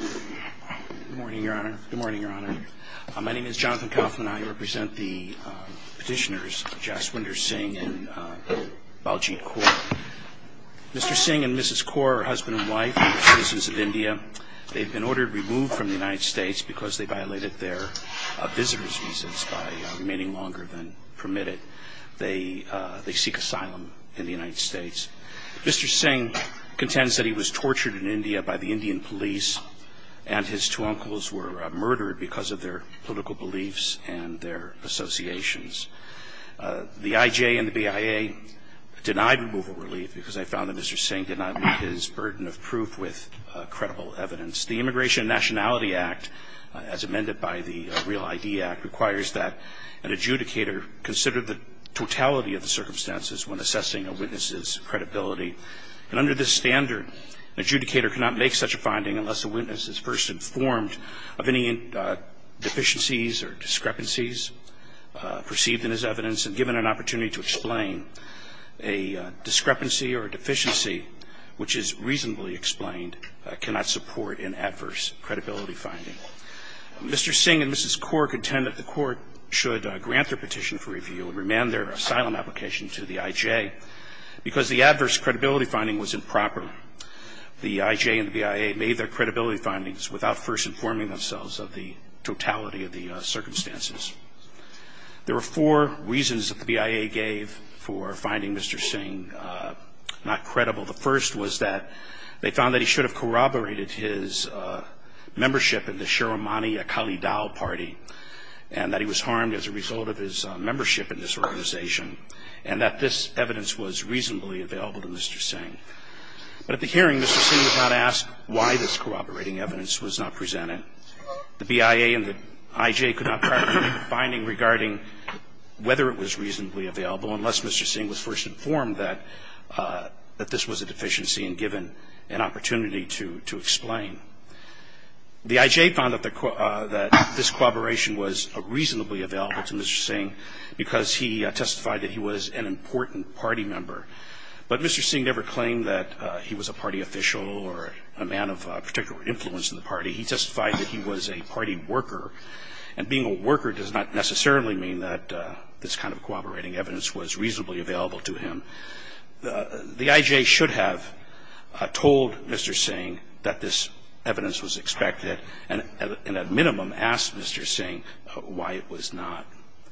Good morning, Your Honor. My name is Jonathan Kaufman. I represent the petitioners Jaswinder Singh and Baljeet Kaur. Mr. Singh and Mrs. Kaur are husband and wife and citizens of India. They've been ordered removed from the United States because they violated their visitor's visas by remaining longer than permitted. They seek asylum in the United States. Mr. Singh's Indian police and his two uncles were murdered because of their political beliefs and their associations. The IJ and the BIA denied removal relief because they found that Mr. Singh did not meet his burden of proof with credible evidence. The Immigration and Nationality Act, as amended by the Real ID Act, requires that an adjudicator consider the totality of the circumstances when assessing a witness's credibility. And under this standard, an adjudicator cannot make such a finding unless the witness is first informed of any deficiencies or discrepancies perceived in his evidence and given an opportunity to explain. A discrepancy or a deficiency which is reasonably explained cannot support an adverse credibility finding. Mr. Singh and Mrs. Kaur contend that the Court should grant their petition for review and remand their asylum application to the IJ because the adverse credibility finding was improper. The IJ and the BIA made their credibility findings without first informing themselves of the totality of the circumstances. There were four reasons that the BIA gave for finding Mr. Singh not credible. The first was that they found that he should have corroborated his membership in the Sharamani Akali Dal Party, and that he was harmed as a result of his membership in this organization, and that this evidence was reasonably available to Mr. Singh. But at the hearing, Mr. Singh was not asked why this corroborating evidence was not presented. The BIA and the IJ could not provide a finding regarding whether it was reasonably available unless Mr. Singh was first informed that this was a deficiency and given an opportunity to explain. The IJ found that this corroboration was reasonably available to Mr. Singh because he testified that he was an important party member. But Mr. Singh never claimed that he was a party official or a man of particular influence in the party. He testified that he was a party worker. And being a worker does not necessarily mean that this kind of corroborating evidence was reasonably available to him. The IJ should have told Mr. Singh that this evidence was expected and at minimum asked Mr. Singh why it was not.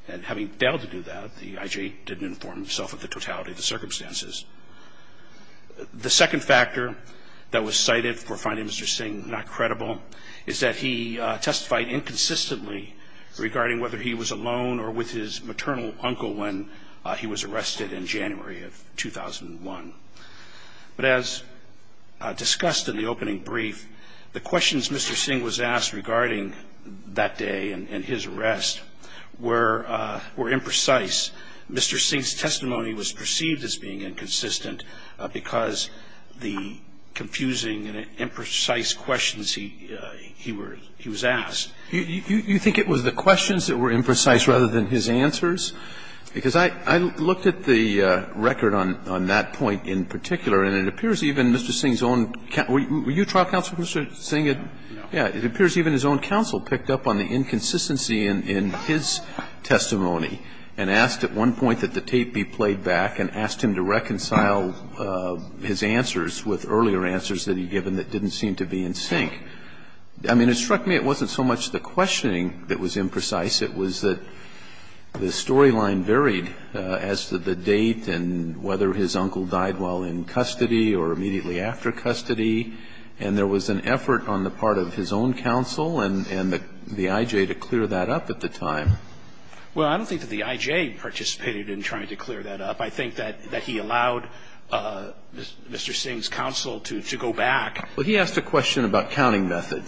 And having failed to do that, the IJ didn't inform himself of the totality of the circumstances. The second factor that was cited for finding Mr. Singh not credible is that he testified inconsistently regarding whether he was alone or with his maternal uncle when he was arrested in January of 2001. But as discussed in the opening brief, the questions Mr. Singh was asked regarding that day and his arrest were imprecise. Mr. Singh's testimony was perceived as being inconsistent because the confusing, imprecise questions he was asked. You think it was the questions that were imprecise rather than his answers? Because I looked at the record on that point in particular, and it appears even Mr. Singh's own – were you trial counsel, Mr. Singh? Yeah. It appears even his own counsel picked up on the inconsistency in his testimony and asked at one point that the tape be played back and asked him to reconcile his answers with earlier answers that he had given that didn't seem to be in sync. I mean, it struck me it wasn't so much the questioning that was imprecise. It was that the storyline varied as to the date and whether his uncle died while in custody or immediately after custody. And there was an effort on the part of his own counsel and the I.J. to clear that up at the time. Well, I don't think that the I.J. participated in trying to clear that up. I think that he allowed Mr. Singh's counsel to go back. Well, he asked a question about counting method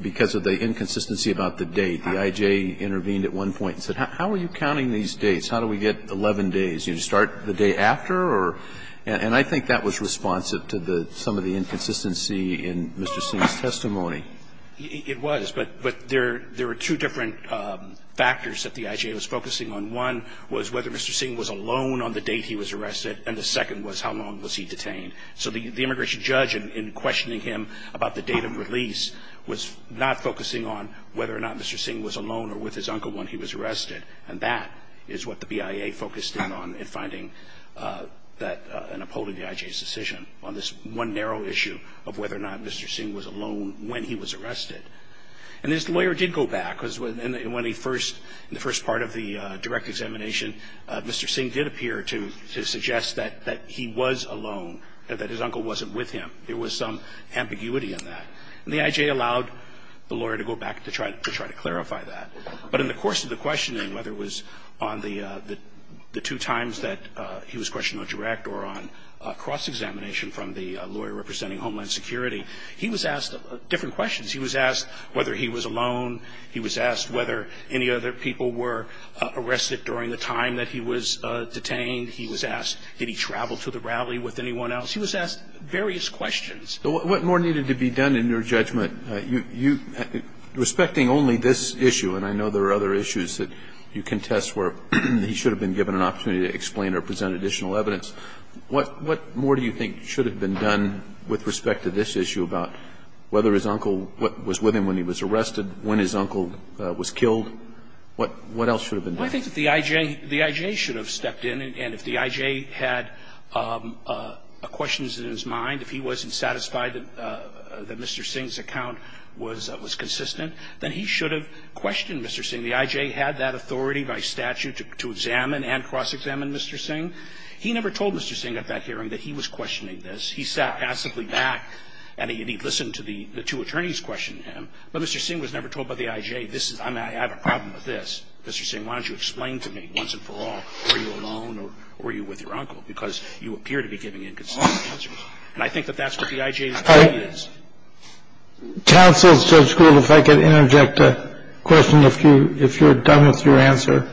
because of the inconsistency about the date. The I.J. intervened at one point and said, how are you counting these dates? How do we get 11 days? Do you start the day after or – and I think that was responsive to the – some of the inconsistency in Mr. Singh's testimony. It was, but there were two different factors that the I.J. was focusing on. One was whether Mr. Singh was alone on the date he was arrested, and the second was how long was he detained. So the immigration judge, in questioning him about the date of release, was not focusing on whether or not Mr. Singh was alone or with his uncle when he was arrested. And that is what the BIA focused in on in finding that – in upholding the I.J.'s decision on this one narrow issue of whether or not Mr. Singh was alone when he was arrested. And this lawyer did go back because when he first – in the first part of the direct examination, Mr. Singh did appear to suggest that he was alone, that his uncle wasn't with him. There was some ambiguity in that. And the I.J. allowed the lawyer to go back to try to clarify that. But in the course of the questioning, whether it was on the two times that he was questioned on direct or on cross-examination from the lawyer representing Homeland Security, he was asked different questions. He was asked whether he was alone. He was asked whether any other people were arrested during the time that he was detained. He was asked did he travel to the rally with anyone else. He was asked various questions. But what more needed to be done in your judgment? You – respecting only this issue – and I know there are other issues that you contest where he should have been given an opportunity to explain or present additional evidence – what more do you think should have been done with respect to this issue about whether his uncle was with him when he was arrested, when his uncle was killed? What else should have been done? I think that the I.J. should have stepped in. And if the I.J. had questions in his mind, if he wasn't satisfied that Mr. Singh's account was consistent, then he should have questioned Mr. Singh. The I.J. had that authority by statute to examine and cross-examine Mr. Singh. He never told Mr. Singh at that hearing that he was questioning this. He sat passively back and he listened to the two attorneys question him. But Mr. Singh was never told by the I.J., this is – I have a problem with this. Mr. Singh, why don't you explain to me once and for all, were you alone or were you with your uncle? Because you appear to be giving inconsistent answers. And I think that that's what the I.J.'s duty is. Kennedy. Counsel, Judge Gould, if I could interject a question, if you're done with your answer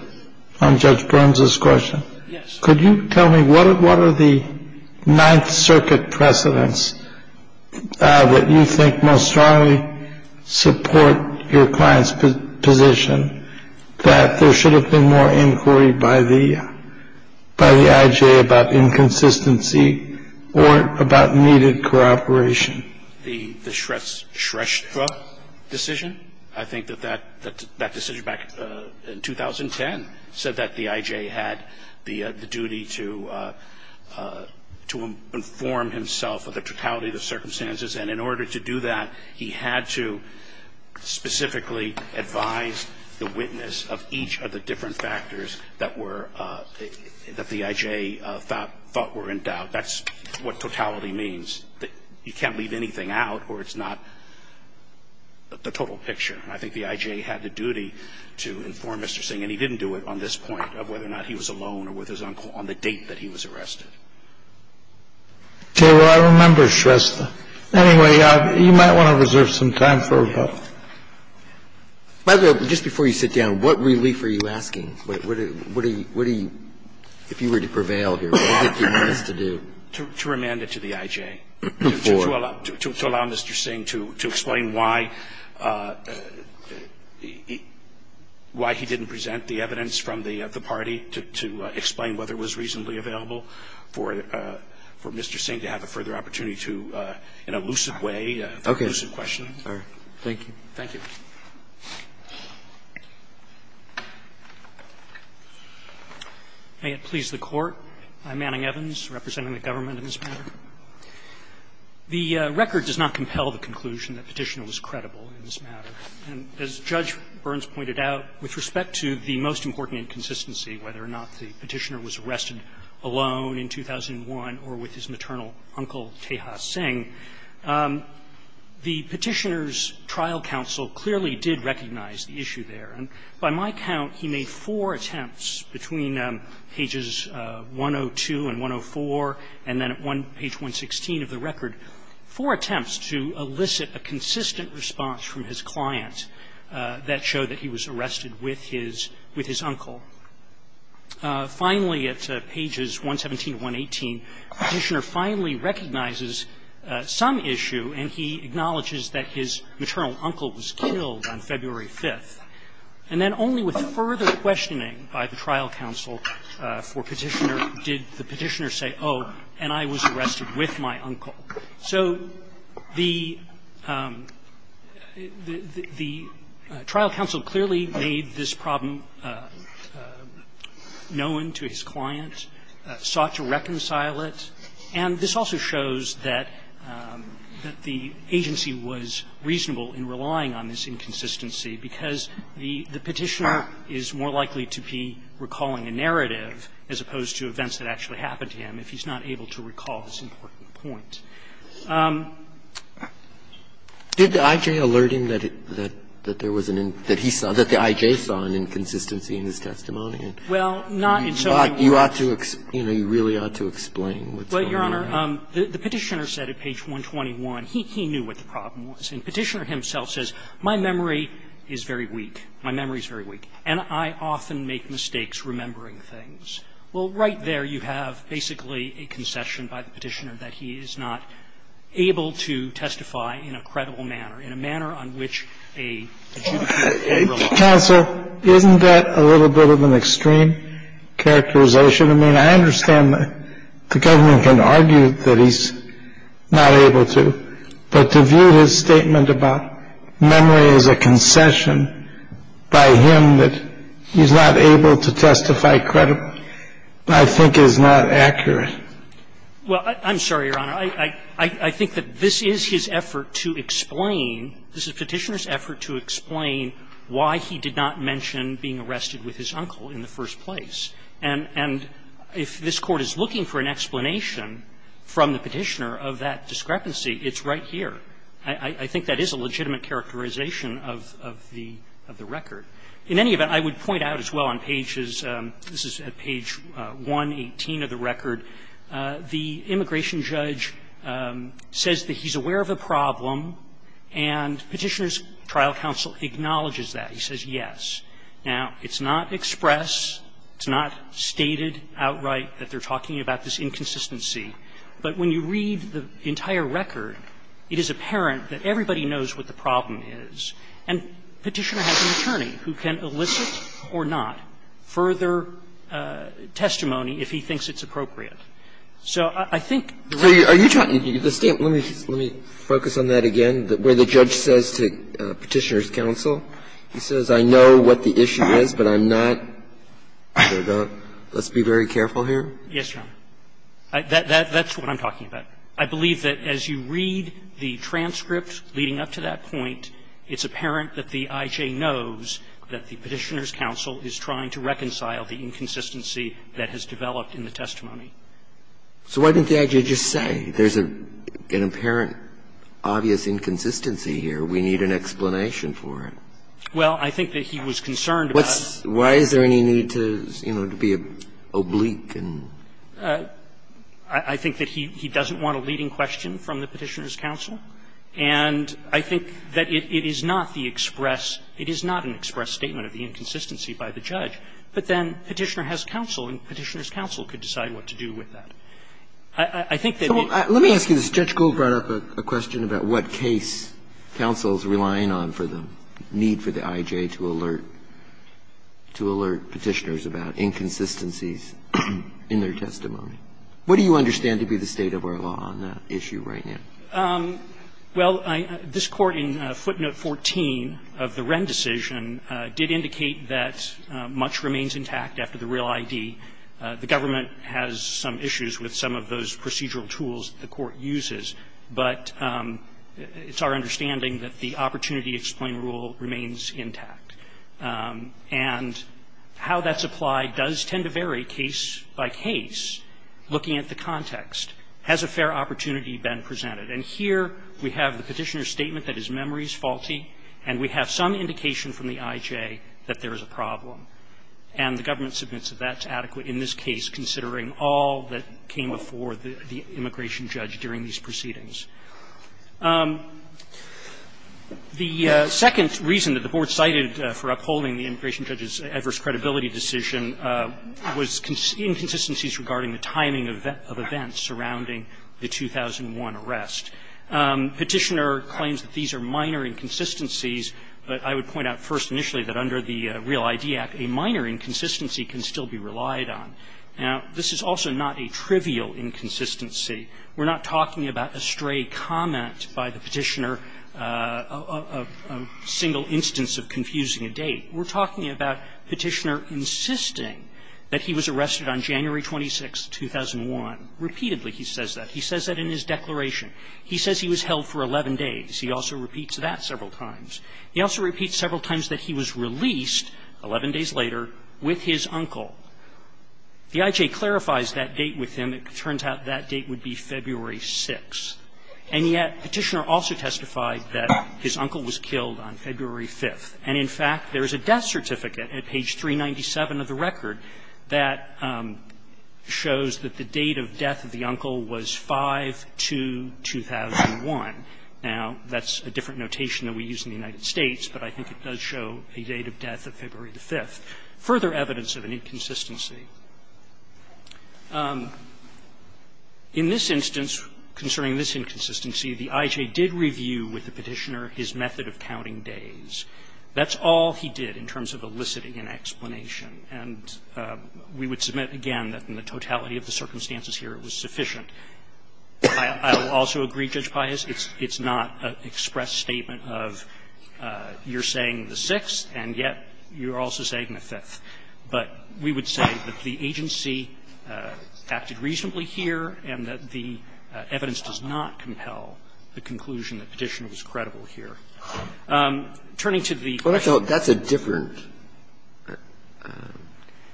on Judge Burns's question. Gould. Yes. Kennedy. Could you tell me what are the Ninth Circuit precedents that you think most strongly support your client's position that there should have been more inquiry by the – by the I.J. about inconsistency or about needed cooperation? Gould. The Shrestha decision? I think that that decision back in 2010 said that the I.J. had the duty to inform himself of the totality of the circumstances. And in order to do that, he had to specifically advise the witness of each of the different factors that were – that the I.J. thought were in doubt. That's what totality means. You can't leave anything out or it's not the total picture. And I think the I.J. had the duty to inform Mr. Singh, and he didn't do it on this point of whether or not he was alone or with his uncle on the date that he was arrested. Kennedy. Well, I remember Shrestha. Anyway, you might want to reserve some time for about – Kennedy. By the way, just before you sit down, what relief are you asking? What do you – what do you – if you were to prevail here, what do you want us to do? Gould. To remand it to the I.J. Kennedy. For? Gould. To allow Mr. Singh to explain why he didn't present the evidence from the party, to explain whether it was reasonably available for Mr. Singh to have a further opportunity to, in a lucid way, pose a question. Kennedy. Okay. All right. Thank you. Gould. Thank you. Evans. May it please the Court. I'm Manning Evans, representing the government in this matter. The record does not compel the conclusion that Petitioner was credible in this matter. And as Judge Burns pointed out, with respect to the most important inconsistency, whether or not the Petitioner was arrested alone in 2001 or with his maternal uncle, Tejas Singh, the Petitioner's trial counsel clearly did recognize the issue there. And by my count, he made four attempts between pages 102 and 104, and then at page 116 of the record, four attempts to elicit a consistent response from his client that showed that he was arrested with his uncle. Finally, at pages 117 and 118, Petitioner finally recognizes some issue, and he acknowledges that his maternal uncle was killed on February 5th. And then only with further questioning by the trial counsel for Petitioner did the Petitioner say, oh, and I was The trial counsel clearly made this problem known to his client, sought to reconcile it. And this also shows that the agency was reasonable in relying on this inconsistency, because the Petitioner is more likely to be recalling a narrative as opposed to events that actually happened to him if he's not able to recall this important point. Did the I.J. alert him that there was an inconsistency in his testimony? You really ought to explain what's going on. Well, Your Honor, the Petitioner said at page 121, he knew what the problem was. And Petitioner himself says, my memory is very weak, my memory is very weak, and I often make mistakes remembering things. Well, right there you have basically a concession by the Petitioner that he is not able to testify in a credible manner, in a manner on which a judiciary will rely. Counsel, isn't that a little bit of an extreme characterization? I mean, I understand the government can argue that he's not able to, but to view his statement about memory as a concession by him that he's not able to testify in a credible manner, I think is not accurate. Well, I'm sorry, Your Honor. I think that this is his effort to explain, this is Petitioner's effort to explain why he did not mention being arrested with his uncle in the first place. And if this Court is looking for an explanation from the Petitioner of that discrepancy, it's right here. I think that is a legitimate characterization of the record. In any event, I would point out as well on pages, this is at page 118 of the record, the immigration judge says that he's aware of a problem, and Petitioner's trial counsel acknowledges that. He says, yes. Now, it's not expressed, it's not stated outright that they're talking about this inconsistency, but when you read the entire record, it is apparent that everybody knows what the problem is. And Petitioner has an attorney who can elicit or not further testimony if he thinks it's appropriate. So I think the record is clear. Breyer, let me focus on that again, where the judge says to Petitioner's counsel, he says, I know what the issue is, but I'm not sure about it. Let's be very careful here. Yes, Your Honor. That's what I'm talking about. I believe that as you read the transcript leading up to that point, it's apparent that the I.J. knows that the Petitioner's counsel is trying to reconcile the inconsistency that has developed in the testimony. So why didn't the I.J. just say, there's an apparent, obvious inconsistency here, we need an explanation for it? Well, I think that he was concerned about the need to be oblique and I think that he doesn't want a leading question from the Petitioner's counsel. And I think that it is not the express – it is not an express statement of the inconsistency by the judge. But then Petitioner has counsel and Petitioner's counsel could decide what to do with I think that it's the same thing. Let me ask you this. Judge Gold brought up a question about what case counsel is relying on for the need for the I.J. to alert Petitioner's about inconsistencies in their testimony. What do you understand to be the state of our law on that issue right now? Well, this Court in footnote 14 of the Wren decision did indicate that much remains intact after the real ID. The government has some issues with some of those procedural tools the Court uses, but it's our understanding that the opportunity explain rule remains intact. And how that's applied does tend to vary case by case, looking at the context. Has a fair opportunity been presented? And here we have the Petitioner's statement that his memory is faulty and we have some indication from the I.J. that there is a problem. And the government submits that that's adequate in this case, considering all that came before the immigration judge during these proceedings. The second reason that the Board cited for upholding the immigration judge's adverse credibility decision was inconsistencies regarding the timing of events surrounding the 2001 arrest. Petitioner claims that these are minor inconsistencies, but I would point out first initially that under the Real ID Act, a minor inconsistency can still be relied on. Now, this is also not a trivial inconsistency. We're not talking about a stray comment by the Petitioner, a single instance of confusing a date. We're talking about Petitioner insisting that he was arrested on January 26, 2001. Repeatedly he says that. He says that in his declaration. He says he was held for 11 days. He also repeats that several times. He also repeats several times that he was released 11 days later with his uncle. The I.J. clarifies that date with him. It turns out that date would be February 6. And yet Petitioner also testified that his uncle was killed on February 5th. And in fact, there is a death certificate at page 397 of the record that shows that the date of death of the uncle was 5-2-2001. Now, that's a different notation than we use in the United States, but I think it does show a date of death of February 5th. Further evidence of an inconsistency. In this instance, concerning this inconsistency, the I.J. did review with the Petitioner his method of counting days. That's all he did in terms of eliciting an explanation. And we would submit again that in the totality of the circumstances here, it was sufficient. I will also agree, Judge Pius, it's not an express statement of you're saying the 6th, and yet you're also saying the 5th. But we would say that the agency acted reasonably here and that the evidence does not compel the conclusion that Petitioner was credible here. Turning to the question of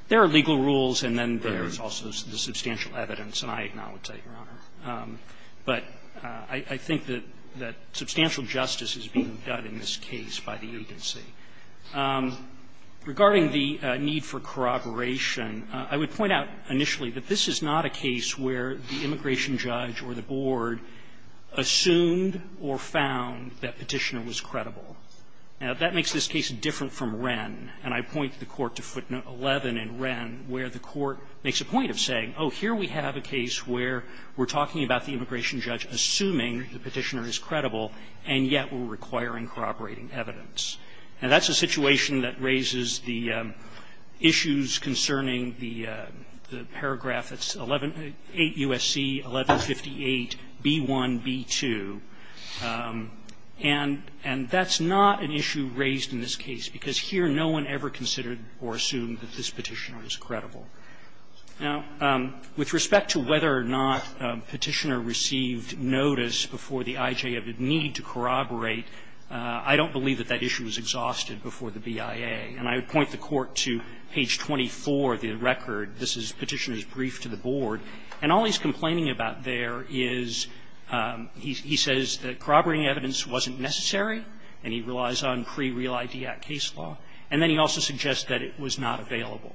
the legal rules, and then there is also the substantial evidence, and I acknowledge that, Your Honor, but I think that substantial justice is being done in this case by the agency. Regarding the need for corroboration, I would point out initially that this is not a case where the immigration judge or the board assumed or found that Petitioner was credible. Now, that makes this case different from Wren, and I point the Court to footnote 11 in Wren, where the Court makes a point of saying, oh, here we have a case where we're talking about the immigration judge assuming the Petitioner is credible, and yet we're requiring corroborating evidence. Now, that's a situation that raises the issues concerning the paragraph that's 8 U.S.C. 1158b1b2, and that's not an issue raised in this case, because here no one ever considered or assumed that this Petitioner was credible. Now, with respect to whether or not Petitioner received notice before the IJ of Idnitio and the need to corroborate, I don't believe that that issue was exhausted before the BIA, and I would point the Court to page 24 of the record. This is Petitioner's brief to the board, and all he's complaining about there is he says that corroborating evidence wasn't necessary, and he relies on pre-Real IDIAC case law, and then he also suggests that it was not available.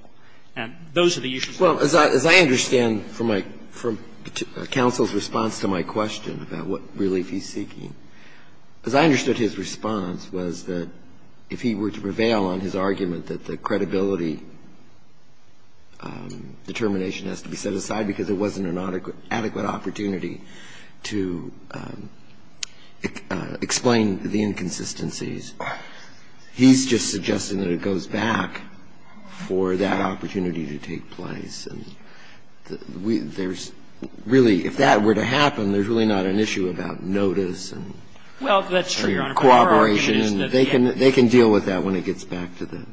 And those are the issues. Well, as I understand from my – from counsel's response to my question about what relief he's seeking, as I understood his response was that if he were to prevail on his argument that the credibility determination has to be set aside because it wasn't an adequate opportunity to explain the inconsistencies, he's just suggesting that it goes back for that opportunity to take place. And there's really – if that were to happen, there's really not an issue about notice and corroboration. Well, that's true, Your Honor. They can deal with that when it gets back to the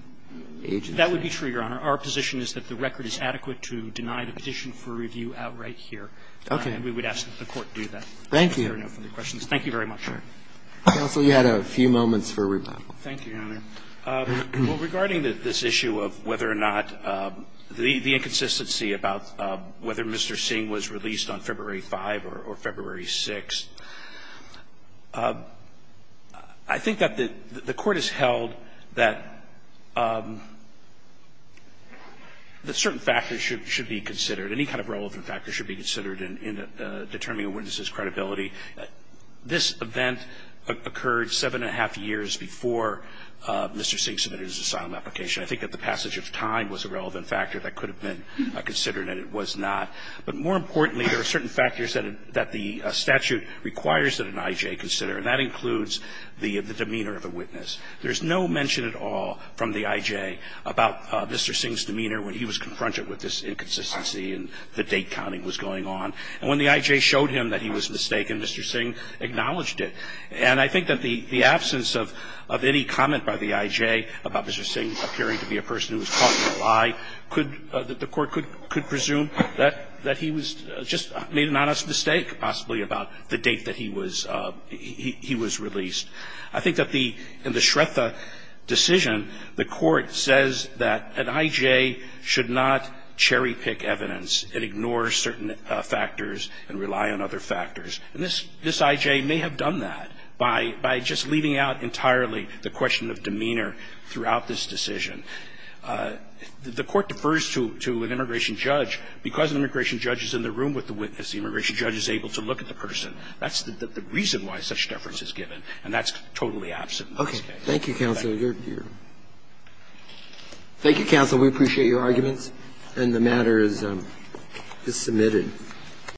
agency. That would be true, Your Honor. Our position is that the record is adequate to deny the petition for review outright here. Okay. And we would ask that the Court do that. Thank you. Thank you very much, Your Honor. Counsel, you had a few moments for rebuttal. Thank you, Your Honor. Well, regarding this issue of whether or not the inconsistency about whether Mr. Singh was released on February 5 or February 6, I think that the Court has held that certain factors should be considered, any kind of relevant factors should be considered in determining a witness's credibility. This event occurred seven and a half years before Mr. Singh submitted his asylum application. I think that the passage of time was a relevant factor that could have been considered and it was not. But more importantly, there are certain factors that the statute requires that an I.J. consider, and that includes the demeanor of the witness. There's no mention at all from the I.J. about Mr. Singh's demeanor when he was confronted with this inconsistency and the date counting was going on. And when the I.J. showed him that he was mistaken, Mr. Singh acknowledged it. And I think that the absence of any comment by the I.J. about Mr. Singh appearing to be a person who was caught in a lie could – that the Court could presume that he was – just made an honest mistake, possibly, about the date that he was – he was released. I think that the – in the Shretha decision, the Court says that an I.J. should not cherry pick evidence. It ignores certain factors and rely on other factors. And this – this I.J. may have done that by – by just leaving out entirely the question of demeanor throughout this decision. The Court defers to an immigration judge. Because an immigration judge is in the room with the witness, the immigration judge is able to look at the person. That's the reason why such deference is given, and that's totally absent in this case. Roberts. Thank you, counsel. Thank you, counsel. We appreciate your arguments. And the matter is – is submitted.